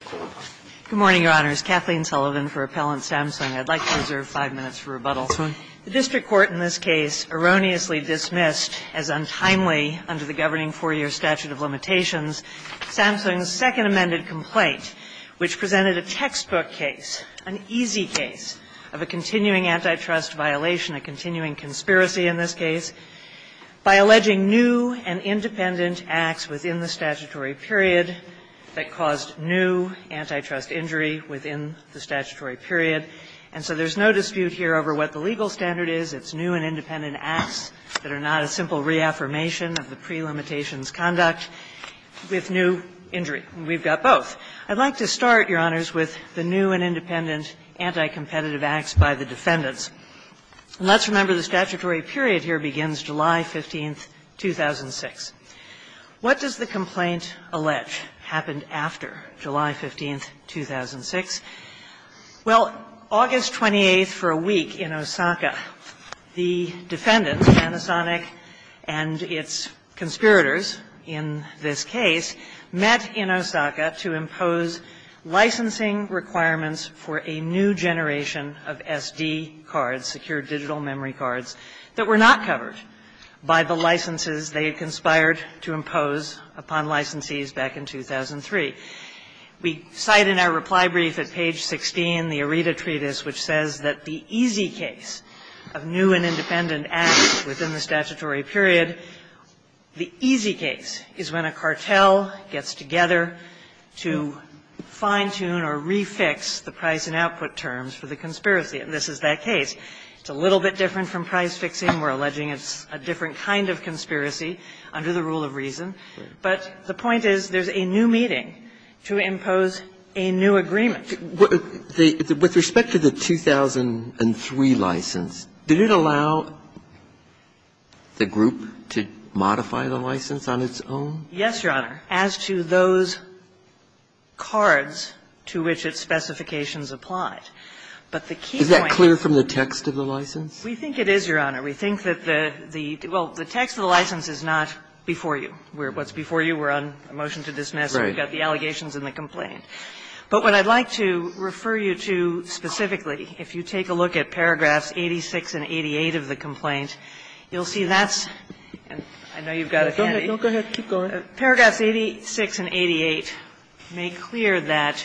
Good morning, Your Honors. Kathleen Sullivan for Appellant Samsung. I'd like to reserve five minutes for rebuttal. The district court in this case erroneously dismissed as untimely, under the governing four-year statute of limitations, Samsung's second amended complaint, which presented a textbook case, an easy case, of a continuing antitrust violation, a continuing conspiracy in this case, by alleging new and independent acts within the statutory period that caused new antitrust injury within the statutory period. And so there's no dispute here over what the legal standard is. It's new and independent acts that are not a simple reaffirmation of the prelimitations conduct with new injury. We've got both. I'd like to start, Your Honors, with the new and independent anti-competitive acts by the defendants. And let's remember the statutory period here begins July 15, 2006. What does the complaint allege happened after July 15, 2006? Well, August 28th, for a week in Osaka, the defendants, Panasonic and its conspirators in this case, met in Osaka to impose licensing requirements for a new generation of SD cards, secure digital memory cards, that were not covered by the licenses they had conspired to impose upon licensees back in 2003. We cite in our reply brief at page 16, the Aretha Treatise, which says that the easy case of new and independent acts within the statutory period, the easy case is when a cartel gets together to fine-tune or re-fix the price and output terms for the conspiracy. And this is that case. It's a little bit different from price fixing. We're alleging it's a different kind of conspiracy under the rule of reason. But the point is there's a new meeting to impose a new agreement. With respect to the 2003 license, did it allow the group to modify the license on its own? Yes, Your Honor, as to those cards to which its specifications applied. But the key point is that clear from the text of the license? We think it is, Your Honor. We think that the, well, the text of the license is not before you. What's before you, we're on a motion to dismiss. We've got the allegations and the complaint. But what I'd like to refer you to specifically, if you take a look at paragraphs 86 and 88 of the complaint, you'll see that's, I know you've got it, Andy. Go ahead. Keep going. Paragraphs 86 and 88 make clear that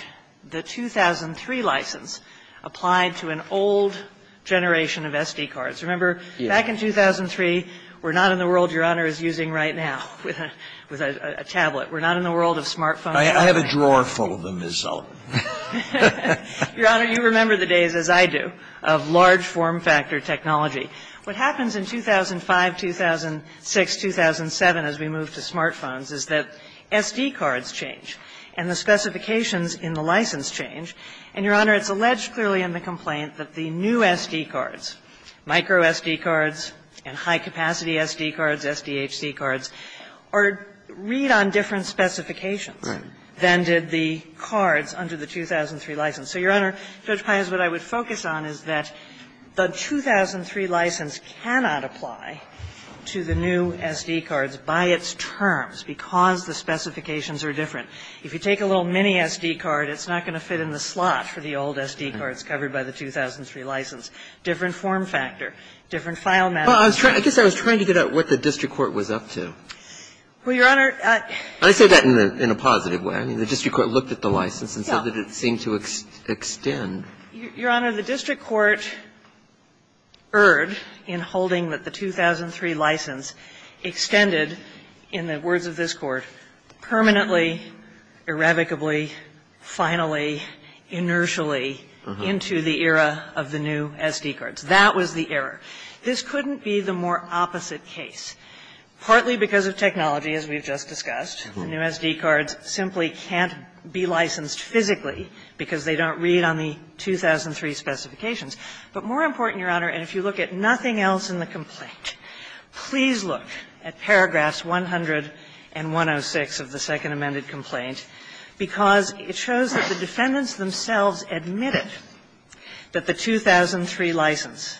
the 2003 license applied to an old generation of SD cards. Remember, back in 2003, we're not in the world Your Honor is using right now with a tablet. We're not in the world of smart phones. I have a drawer full of them, Ms. Sullivan. Your Honor, you remember the days, as I do, of large form factor technology. What happens in 2005, 2006, 2007, as we move to smart phones, is that SD cards change and the specifications in the license change. And, Your Honor, it's alleged clearly in the complaint that the new SD cards, micro SD cards and high-capacity SD cards, SDHC cards, are read on different specifications than did the cards under the 2003 license. So, Your Honor, Judge Pius, what I would focus on is that the 2003 license cannot apply to the new SD cards by its terms because the specifications are different. If you take a little mini SD card, it's not going to fit in the slot for the old SD cards covered by the 2003 license. Different form factor, different file management. Well, I guess I was trying to get at what the district court was up to. Well, Your Honor, I say that in a positive way. I mean, the district court looked at the license and said that it seemed to extend. Your Honor, the district court erred in holding that the 2003 license extended, in the words of this Court, permanently, irrevocably, finally, inertially into the era of the new SD cards. That was the error. This couldn't be the more opposite case, partly because of technology, as we've just discussed. The new SD cards simply can't be licensed physically because they don't read on the 2003 specifications. But more important, Your Honor, and if you look at nothing else in the complaint, please look at paragraphs 100 and 106 of the Second Amended Complaint, because it shows that the defendants themselves admitted that the 2003 license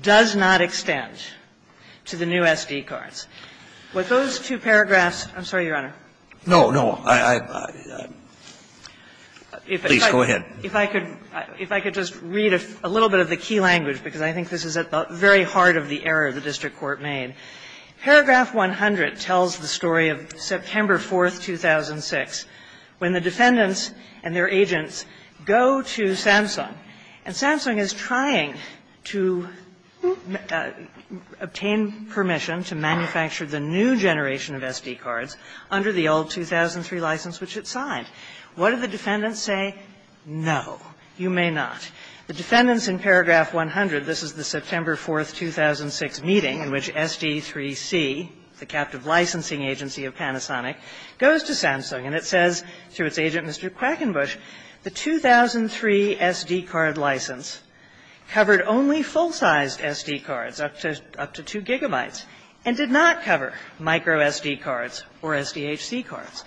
does not extend to the new SD cards. Would those two paragraphs – I'm sorry, Your Honor. No, no. I – please, go ahead. If I could just read a little bit of the key language, because I think this is at the very heart of the error the district court made. Paragraph 100 tells the story of September 4, 2006, when the defendants and their agents go to Samsung, and Samsung is trying to obtain permission to manufacture the new generation of SD cards under the old 2003 license which it signed. What do the defendants say? No, you may not. The defendants in paragraph 100, this is the September 4, 2006 meeting in which SD3C, the captive licensing agency of Panasonic, goes to Samsung, and it says to its agent, Mr. Quackenbush, the 2003 SD card license covered only full-sized SD cards, up to 2 gigabytes, and did not cover micro SD cards or SDHC cards.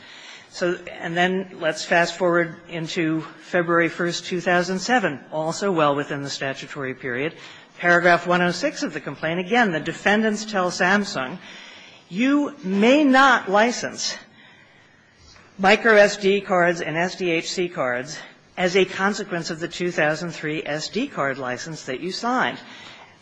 So – and then let's fast-forward into February 1, 2007, all the way back to the statute, also well within the statutory period, paragraph 106 of the complaint. Again, the defendants tell Samsung, you may not license micro SD cards and SDHC cards as a consequence of the 2003 SD card license that you signed.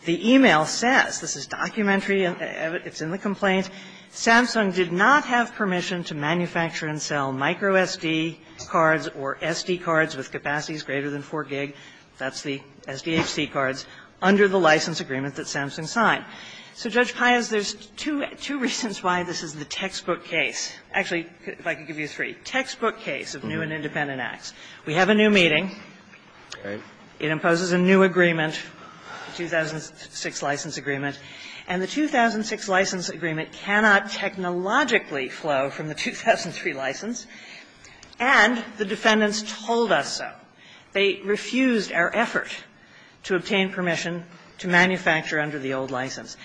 The e-mail says – this is documentary, it's in the complaint – Samsung did not have permission to manufacture and sell micro SD cards or SD cards with capacities greater than 4 gig, that's the SDHC cards, under the license agreement that Samsung signed. So, Judge Pius, there's two reasons why this is the textbook case. Actually, if I could give you three. Textbook case of new and independent acts. We have a new meeting. It imposes a new agreement, 2006 license agreement, and the 2006 license agreement cannot technologically flow from the 2003 license, and the defendants told us so. They refused our effort to obtain permission to manufacture under the old license.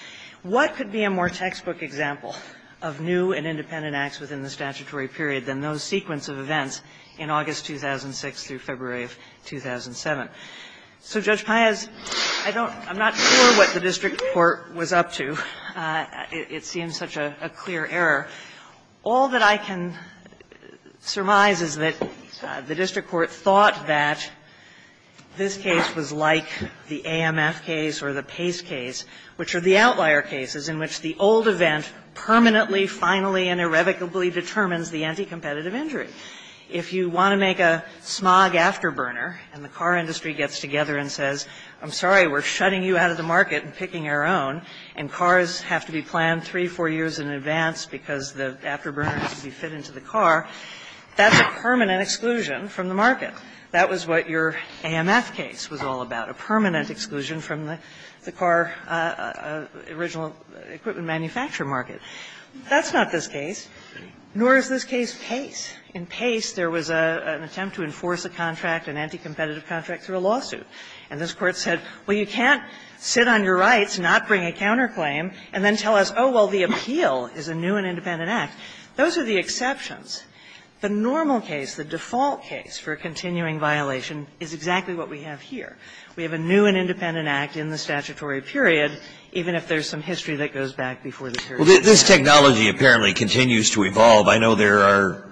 What could be a more textbook example of new and independent acts within the statutory period than those sequence of events in August 2006 through February of 2007? So, Judge Pius, I don't – I'm not sure what the district court was up to. It seems such a clear error. All that I can surmise is that the district court thought that this case was like the AMF case or the Pace case, which are the outlier cases in which the old event permanently, finally, and irrevocably determines the anti-competitive injury. If you want to make a smog afterburner, and the car industry gets together and says, I'm sorry, we're shutting you out of the market and picking our own, and cars have to be planned three, four years in advance because the afterburner has to be fit into the car, that's a permanent exclusion from the market. That was what your AMF case was all about, a permanent exclusion from the car original equipment manufacturer market. That's not this case, nor is this case Pace. In Pace, there was an attempt to enforce a contract, an anti-competitive contract, through a lawsuit. And this Court said, well, you can't sit on your rights, not bring a counterclaim, and then tell us, oh, well, the appeal is a new and independent act. Those are the exceptions. The normal case, the default case for a continuing violation, is exactly what we have here. We have a new and independent act in the statutory period, even if there's some history that goes back before the period. Breyer. Well, this technology apparently continues to evolve. I know there are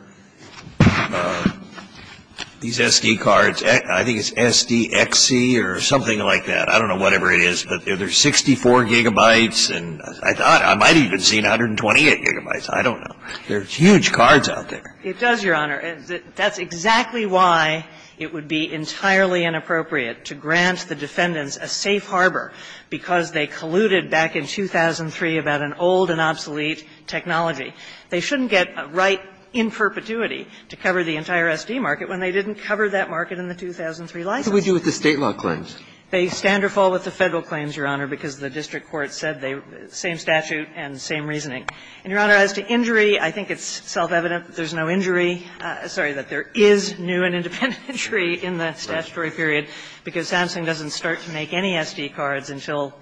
these SD cards. I think it's SDXC or something like that. I don't know whatever it is. But there's 64 gigabytes, and I thought I might have even seen 128 gigabytes. I don't know. There's huge cards out there. It does, Your Honor. That's exactly why it would be entirely inappropriate to grant the defendants a safe harbor, because they colluded back in 2003 about an old and obsolete technology. They shouldn't get a right in perpetuity to cover the entire SD market when they didn't cover that market in the 2003 licenses. What do we do with the State law claims? They stand or fall with the Federal claims, Your Honor, because the district court said they were the same statute and the same reasoning. And, Your Honor, as to injury, I think it's self-evident that there's no injury – sorry, that there is new and independent injury in the statutory period, because Samsung doesn't start to make any SD cards until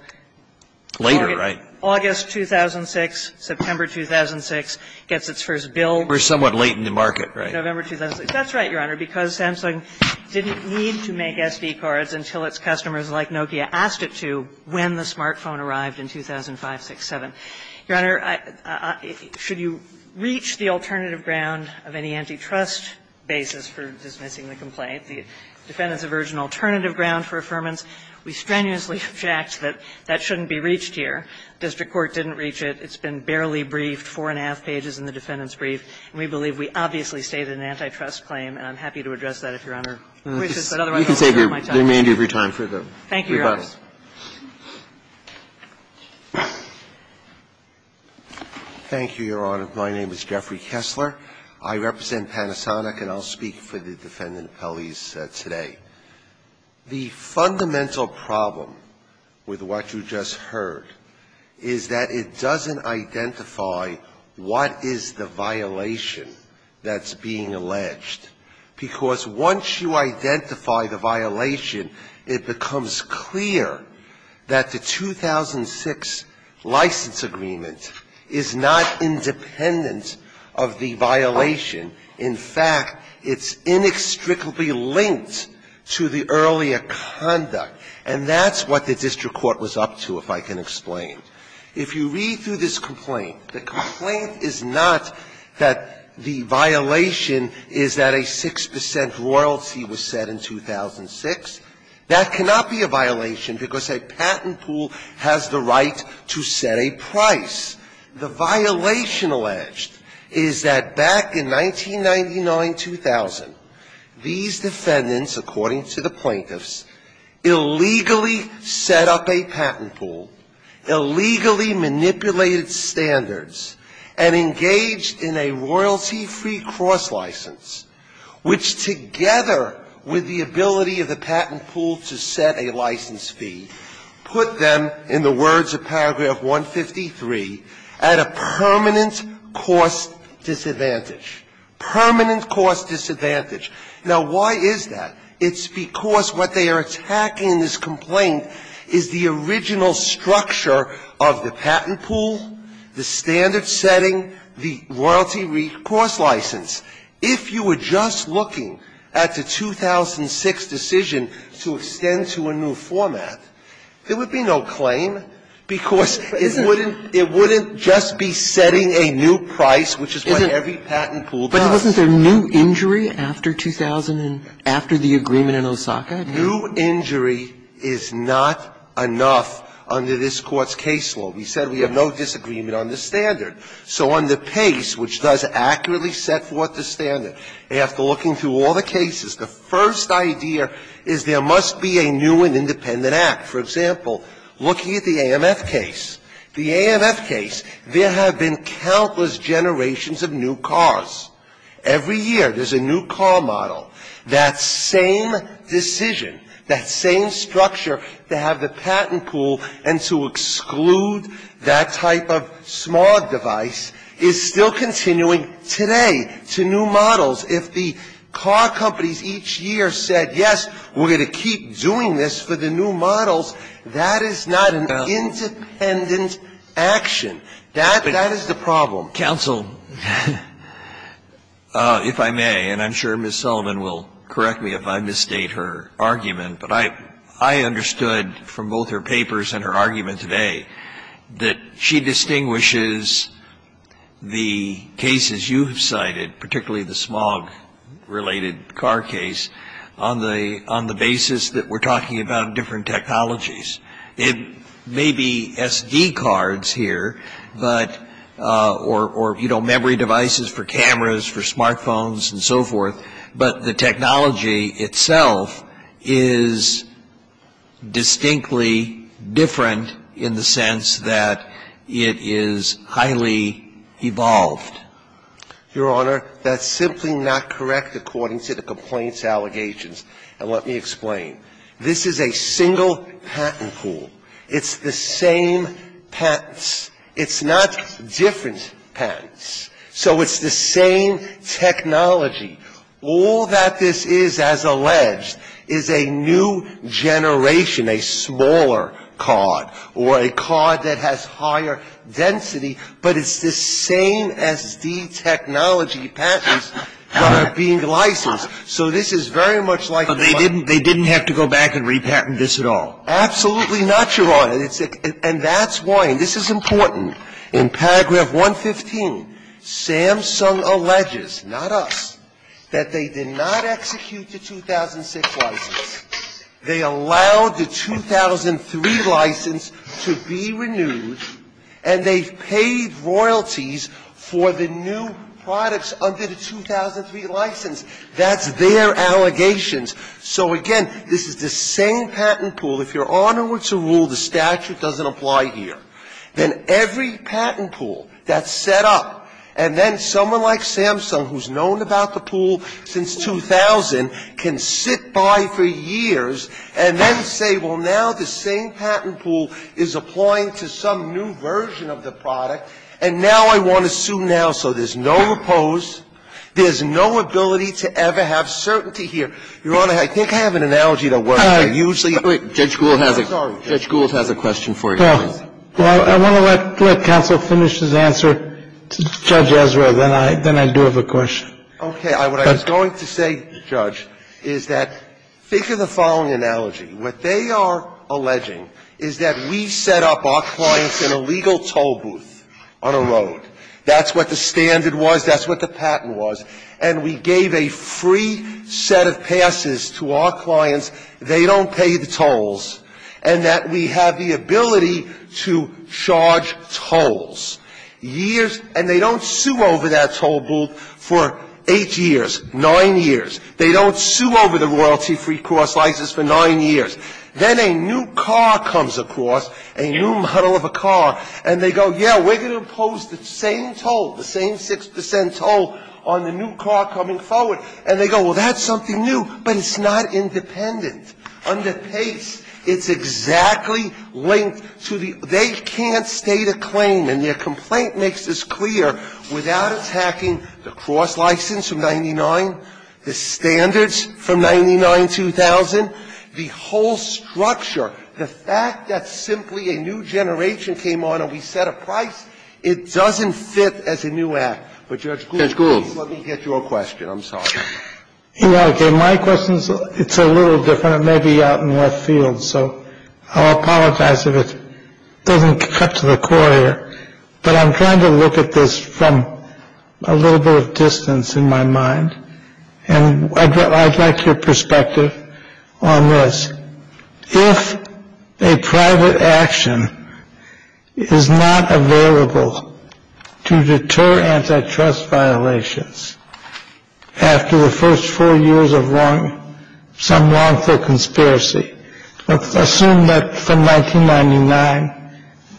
August 2006, September 2006, gets its first bill. We're somewhat late in the market, right? November 2006. That's right, Your Honor, because Samsung didn't need to make SD cards until its customers like Nokia asked it to when the smartphone arrived in 2005, 6, 7. Your Honor, should you reach the alternative ground of any antitrust basis for dismissing the complaint, the defendants have urged an alternative ground for affirmance. We strenuously object that that shouldn't be reached here. The district court didn't reach it. It's been barely briefed, four and a half pages in the defendant's brief. And we believe we obviously stated an antitrust claim, and I'm happy to address that if Your Honor wishes. But otherwise, I won't take up my time. Roberts, thank you, Your Honor. Kessler, thank you, Your Honor. My name is Jeffrey Kessler. I represent Panasonic, and I'll speak for the defendant appellees today. The fundamental problem with what you just heard is that it doesn't identify what is the violation that's being alleged, because once you identify the violation, it becomes clear that the 2006 license agreement is not independent of the violation. In fact, it's inextricably linked to the earlier conduct. And that's what the district court was up to, if I can explain. If you read through this complaint, the complaint is not that the violation is that a 6 percent royalty was set in 2006. That cannot be a violation, because a patent pool has the right to set a price. The violation alleged is that back in 1999-2000, these defendants, according to the plaintiffs, illegally set up a patent pool, illegally manipulated standards, and engaged in a royalty-free cross-license, which together with the ability of the patent pool to set a license fee, put them, in the words of paragraph 153, at a permanent cost disadvantage, permanent cost disadvantage. Now, why is that? It's because what they are attacking in this complaint is the original structure of the patent pool, the standard setting, the royalty-free cross-license. If you were just looking at the 2006 decision to extend to a new format, there would be no claim, because it wouldn't just be setting a new price, which is what every patent pool does. But wasn't there new injury after 2000, after the agreement in Osaka? New injury is not enough under this Court's case law. We said we have no disagreement on the standard. So on the PACE, which does accurately set forth the standard, after looking through all the cases, the first idea is there must be a new and independent act. For example, looking at the AMF case, the AMF case, there have been countless generations of new cars. Every year there's a new car model. That same decision, that same structure to have the patent pool and to exclude that type of smog device is still continuing today to new models. If the car companies each year said, yes, we're going to keep doing this for the new models, that is not an independent action. That is the problem. Well, counsel, if I may, and I'm sure Ms. Sullivan will correct me if I misstate her argument, but I understood from both her papers and her argument today that she distinguishes the cases you've cited, particularly the smog-related car case, on the basis that we're talking about different technologies. It may be SD cards here, but or, you know, memory devices for cameras, for smartphones and so forth, but the technology itself is distinctly different in the sense that it is highly evolved. Your Honor, that's simply not correct according to the complaints allegations. And let me explain. This is a single patent pool. It's the same patents. It's not different patents. So it's the same technology. All that this is, as alleged, is a new generation, a smaller card or a card that has higher density, but it's the same SD technology patents that are being licensed. So this is very much like a one- And I'm not going to go back and repatent this at all. Absolutely not, Your Honor. And that's why, and this is important. In paragraph 115, Samsung alleges, not us, that they did not execute the 2006 license. They allowed the 2003 license to be renewed, and they paid royalties for the new products under the 2003 license. That's their allegations. So, again, this is the same patent pool. If Your Honor were to rule the statute doesn't apply here, then every patent pool that's set up, and then someone like Samsung, who's known about the pool since 2000, can sit by for years and then say, well, now the same patent pool is applying to some new version of the product, and now I want to sue now, so there's no oppose, there's no ability to ever have certainty here. Your Honor, I think I have an analogy that works. I usually do. Judge Gould has a question for you. Well, I want to let counsel finish his answer to Judge Ezra, then I do have a question. Okay. What I was going to say, Judge, is that think of the following analogy. What they are alleging is that we set up our clients in a legal toll booth on a road. That's what the standard was. That's what the patent was. And we gave a free set of passes to our clients. They don't pay the tolls. And that we have the ability to charge tolls. Years, and they don't sue over that toll booth for eight years, nine years. They don't sue over the royalty-free cross license for nine years. Then a new car comes across, a new model of a car, and they go, yeah, we're going to impose the same toll, the same 6% toll on the new car coming forward. And they go, well, that's something new, but it's not independent. Under Pace, it's exactly linked to the, they can't state a claim, and their complaint makes this clear, without attacking the cross license from 99, the standards from 99-2000, the whole structure, the fact that simply a new generation came on and we set a price, it doesn't fit as a new act. But Judge Gould, please, let me get your question. I'm sorry. You know, again, my question's, it's a little different. It may be out in left field, so I'll apologize if it doesn't cut to the core here. But I'm trying to look at this from a little bit of distance in my mind. And I'd like your perspective on this. If a private action is not available to deter antitrust violations, after the first four years of some wrongful conspiracy, let's assume that from 1999,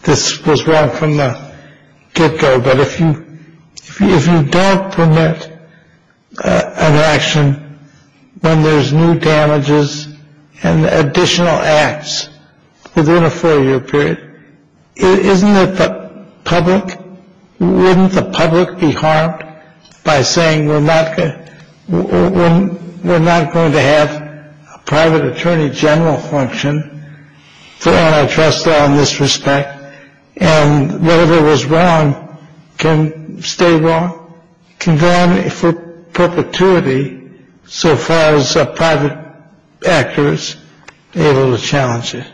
this was wrong from the get-go. But if you don't permit an action when there's new damages, and additional acts within a four-year period, isn't it the public, wouldn't the public be harmed by saying we're not going to have a private attorney general function for antitrust law in this respect? And whatever was wrong can stay wrong, can go on for perpetuity, so far as private actors are able to challenge it.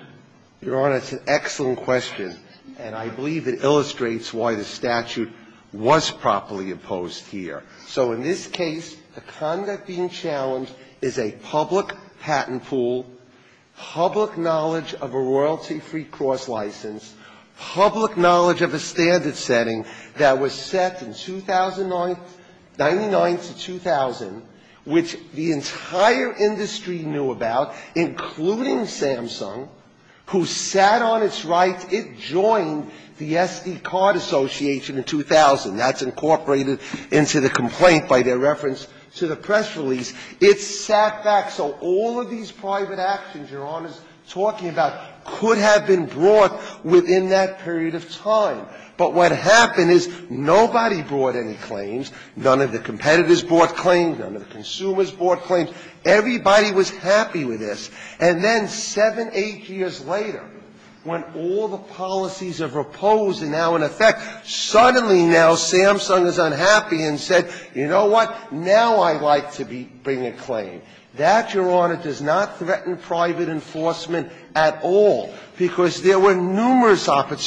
Your Honor, it's an excellent question. And I believe it illustrates why the statute was properly imposed here. So in this case, the conduct being challenged is a public patent pool, public knowledge of a royalty-free cross license, public knowledge of a standard setting that was set in 2009, 99 to 2000, which the entire industry knew about, including Samsung, who sat on its right. It joined the SD Card Association in 2000. That's incorporated into the complaint by their reference to the press release. It sat back so all of these private actions Your Honor's talking about could have been brought within that period of time. But what happened is nobody brought any claims, none of the competitors brought claims, none of the consumers brought claims. Everybody was happy with this. And then 7, 8 years later, when all the policies have reposed and now, in effect, suddenly now Samsung is unhappy and said, you know what, now I'd like to bring a claim. That, Your Honor, does not threaten private enforcement at all, because there were none.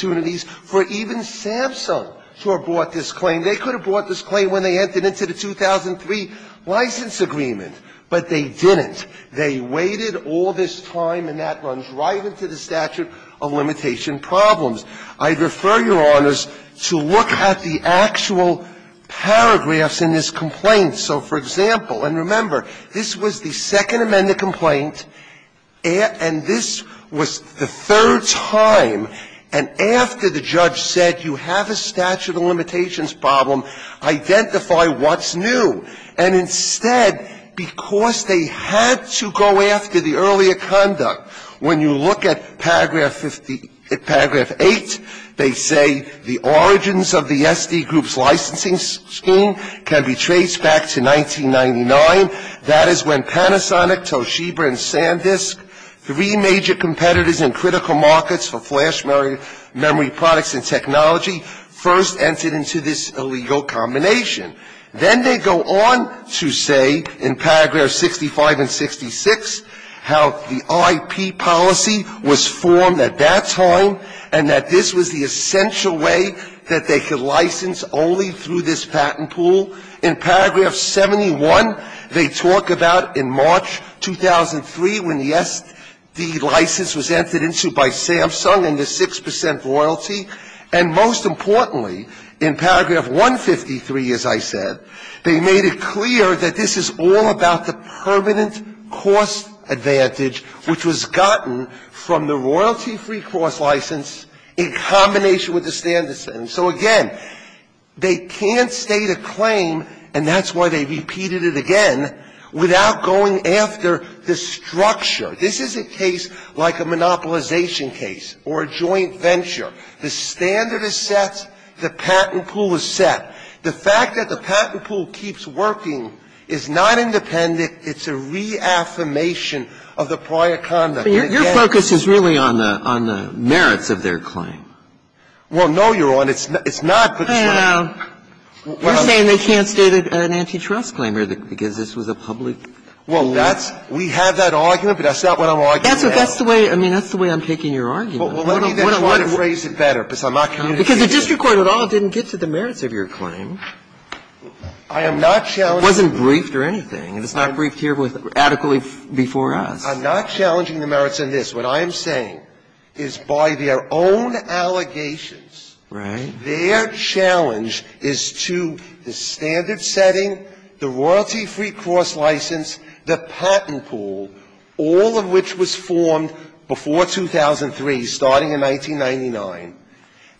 Even Samsung sure brought this claim. They could have brought this claim when they entered into the 2003 license agreement, but they didn't. They waited all this time, and that runs right into the statute of limitation problems. I'd refer Your Honors to look at the actual paragraphs in this complaint. So, for example, and remember, this was the Second Amendment complaint, and this was the third time, and after the judge said, you have a statute of limitations problem, identify what's new. And instead, because they had to go after the earlier conduct, when you look at paragraph 50, paragraph 8, they say the origins of the SD group's licensing scheme can be traced back to 1999. That is when Panasonic, Toshiba, and SanDisk, three major competitors in critical markets for flash memory products and technology, first entered into this illegal combination. Then they go on to say, in paragraph 65 and 66, how the IP policy was formed at that time and that this was the essential way that they could license only through this patent pool. In paragraph 71, they talk about in March 2003, when the SD license was entered into by Samsung and the 6 percent royalty. And most importantly, in paragraph 153, as I said, they made it clear that this is all about the permanent cost advantage, which was gotten from the royalty-free cost license in combination with the standard setting. So, again, they can't state a claim, and that's why they repeated it again, without going after the structure. This isn't a case like a monopolization case or a joint venture. The standard is set, the patent pool is set. The fact that the patent pool keeps working is not independent, it's a reaffirmation And it can't be used. Sotomayor Your focus is really on the merits of their claim. Well, no, Your Honor, it's not. Kagan You're saying they can't state an antitrust claim because this was a public claim. We have that argument, but that's not what I'm arguing now. That's the way I'm taking your argument. Well, let me try to phrase it better, because I'm not coming to you. Because the district court at all didn't get to the merits of your claim. I am not challenging. It wasn't briefed or anything, and it's not briefed here adequately before us. I'm not challenging the merits in this. What I am saying is, by their own allegations, their challenge is to the standard setting, the royalty-free cross license, the patent pool, all of which was formed before 2003, starting in 1999,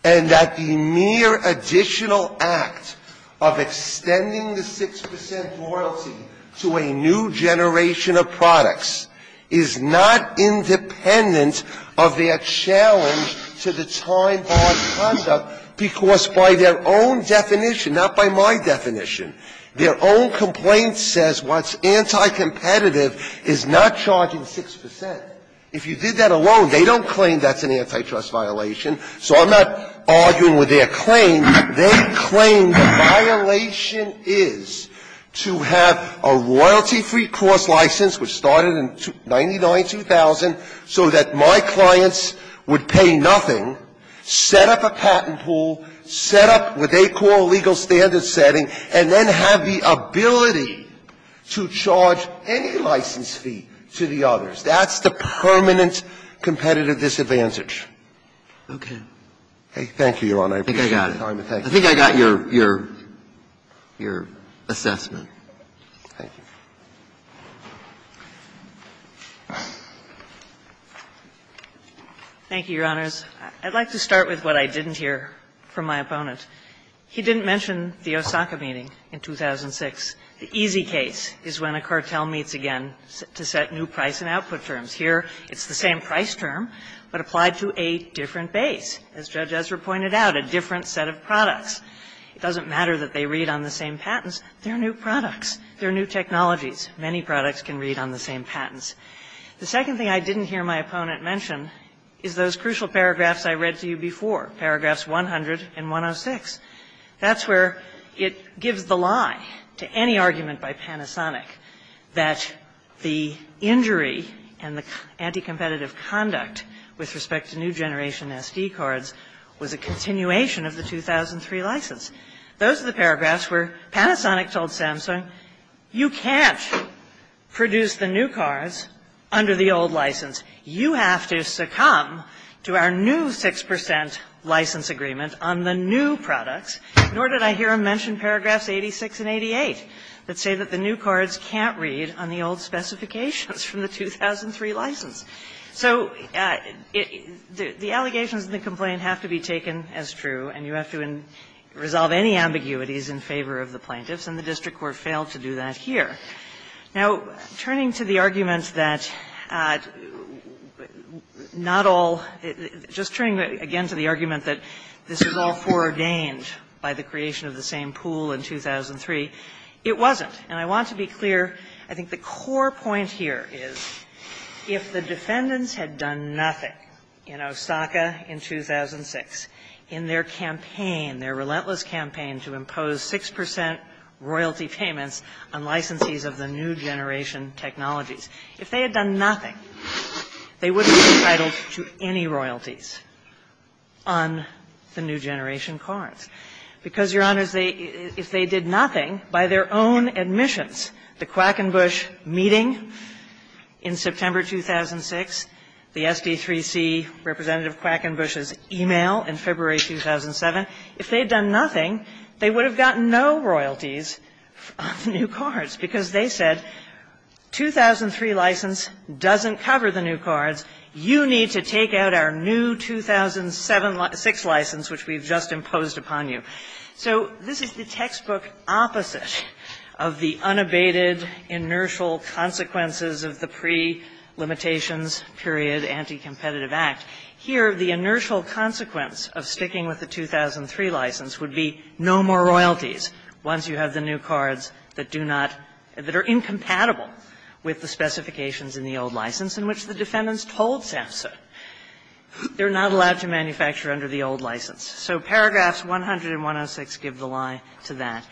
and that the mere additional act of extending the 6 percent royalty to a new generation of products is not independent of their challenge to the time-barred conduct, because by their own definition – not by my definition – their own complaint says what's anti-competitive is not charging 6 percent. If you did that alone, they don't claim that's an antitrust violation, so I'm not arguing with their claim. They claim the violation is to have a royalty-free cross license, which started in 1999-2000, so that my clients would pay nothing, set up a patent pool, set up what they call a legal standard setting, and then have the ability to charge any license fee to the others. That's the permanent competitive disadvantage. Okay. Thank you, Your Honor. I appreciate your time and thank you. I think I got it. I think I got your assessment. Thank you. Thank you, Your Honors. I'd like to start with what I didn't hear from my opponent. He didn't mention the Osaka meeting in 2006. The easy case is when a cartel meets again to set new price and output terms. Here, it's the same price term, but applied to a different base. As Judge Ezra pointed out, a different set of products. It doesn't matter that they read on the same patents. They're new products. They're new technologies. Many products can read on the same patents. The second thing I didn't hear my opponent mention is those crucial paragraphs I read to you before, paragraphs 100 and 106. That's where it gives the lie to any argument by Panasonic that the injury and the anti-competitive conduct with respect to new generation SD cards was a continuation of the 2003 license. Those are the paragraphs where Panasonic told Samsung, you can't produce the new cards under the old license. You have to succumb to our new 6 percent license agreement on the new products. Nor did I hear him mention paragraphs 86 and 88 that say that the new cards can't read on the old specifications from the 2003 license. So the allegations in the complaint have to be taken as true, and you have to resolve any ambiguities in favor of the plaintiffs, and the district court failed to do that here. Now, turning to the argument that not all – just turning, again, to the argument that this was all foreordained by the creation of the same pool in 2003, it wasn't. And I want to be clear, I think the core point here is if the defendants had done nothing in Osaka in 2006, in their campaign, their relentless campaign to impose 6 percent royalty payments on licensees of the new generation technologies, if they had done nothing, they wouldn't be entitled to any royalties on the new generation cards, because, Your Honors, if they did nothing by their own admissions, the Quackenbush meeting in September 2006, the SB3C representative Quackenbush's e-mail in February 2007, if they had done nothing, they would have gotten no royalties on the new cards, because they said 2003 license doesn't cover the new cards. You need to take out our new 2007-06 license, which we've just imposed upon you. So this is the textbook opposite of the unabated, inertial consequences of the pre-limitations period anti-competitive act. Here, the inertial consequence of sticking with the 2003 license would be no more royalties once you have the new cards that do not – that are incompatible with the specifications in the old license, in which the defendants told SAMHSA they're not allowed to manufacture under the old license. So paragraphs 100 and 106 give the lie to that.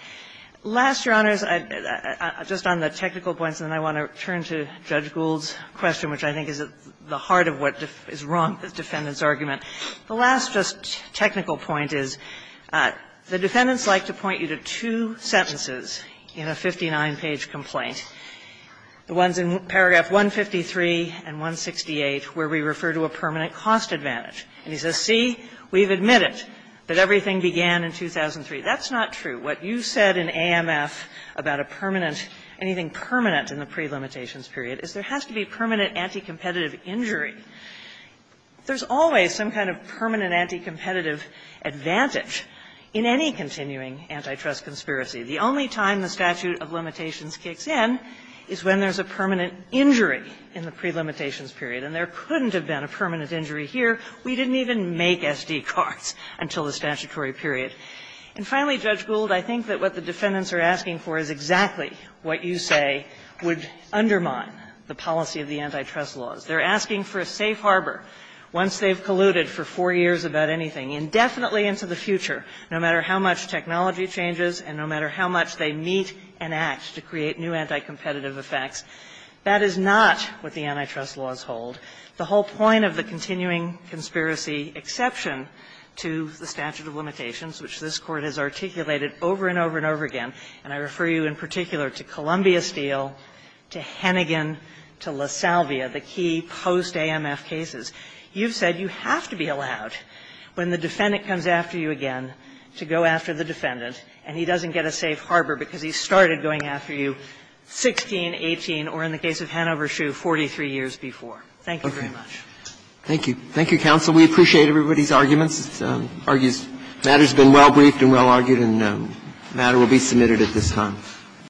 Last, Your Honors, just on the technical points, and then I want to turn to Judge Gould's question, which I think is at the heart of what is wrong with the defendant's argument, the last just technical point is the defendants like to point you to two sentences in a 59-page complaint, the ones in paragraph 153 and 168, where we refer to a permanent cost advantage. And he says, see, we've admitted that everything began in 2003. That's not true. What you said in AMF about a permanent – anything permanent in the pre-limitations period is there has to be permanent anti-competitive injury. There's always some kind of permanent anti-competitive advantage in any continuing antitrust conspiracy. The only time the statute of limitations kicks in is when there's a permanent injury in the pre-limitations period. And there couldn't have been a permanent injury here. We didn't even make SD cards until the statutory period. And finally, Judge Gould, I think that what the defendants are asking for is exactly what you say would undermine the policy of the antitrust laws. They're asking for a safe harbor once they've colluded for four years about anything, indefinitely into the future, no matter how much technology changes and no matter how much they meet and act to create new anti-competitive effects. That is not what the antitrust laws hold. The whole point of the continuing conspiracy exception to the statute of limitations, which this Court has articulated over and over and over again, and I refer you in particular to Columbia Steel, to Hennigan, to LaSalvia, the key post-AMF cases, you've said you have to be allowed, when the defendant comes after you again, to go after the defendant, and he doesn't get a safe harbor because he started going after you 16, 18, or in the case of Hanover Shoe, 43 years before. Thank you very much. Roberts. Thank you. Thank you, counsel. We appreciate everybody's arguments. The matter has been well briefed and well argued, and the matter will be submitted at this time.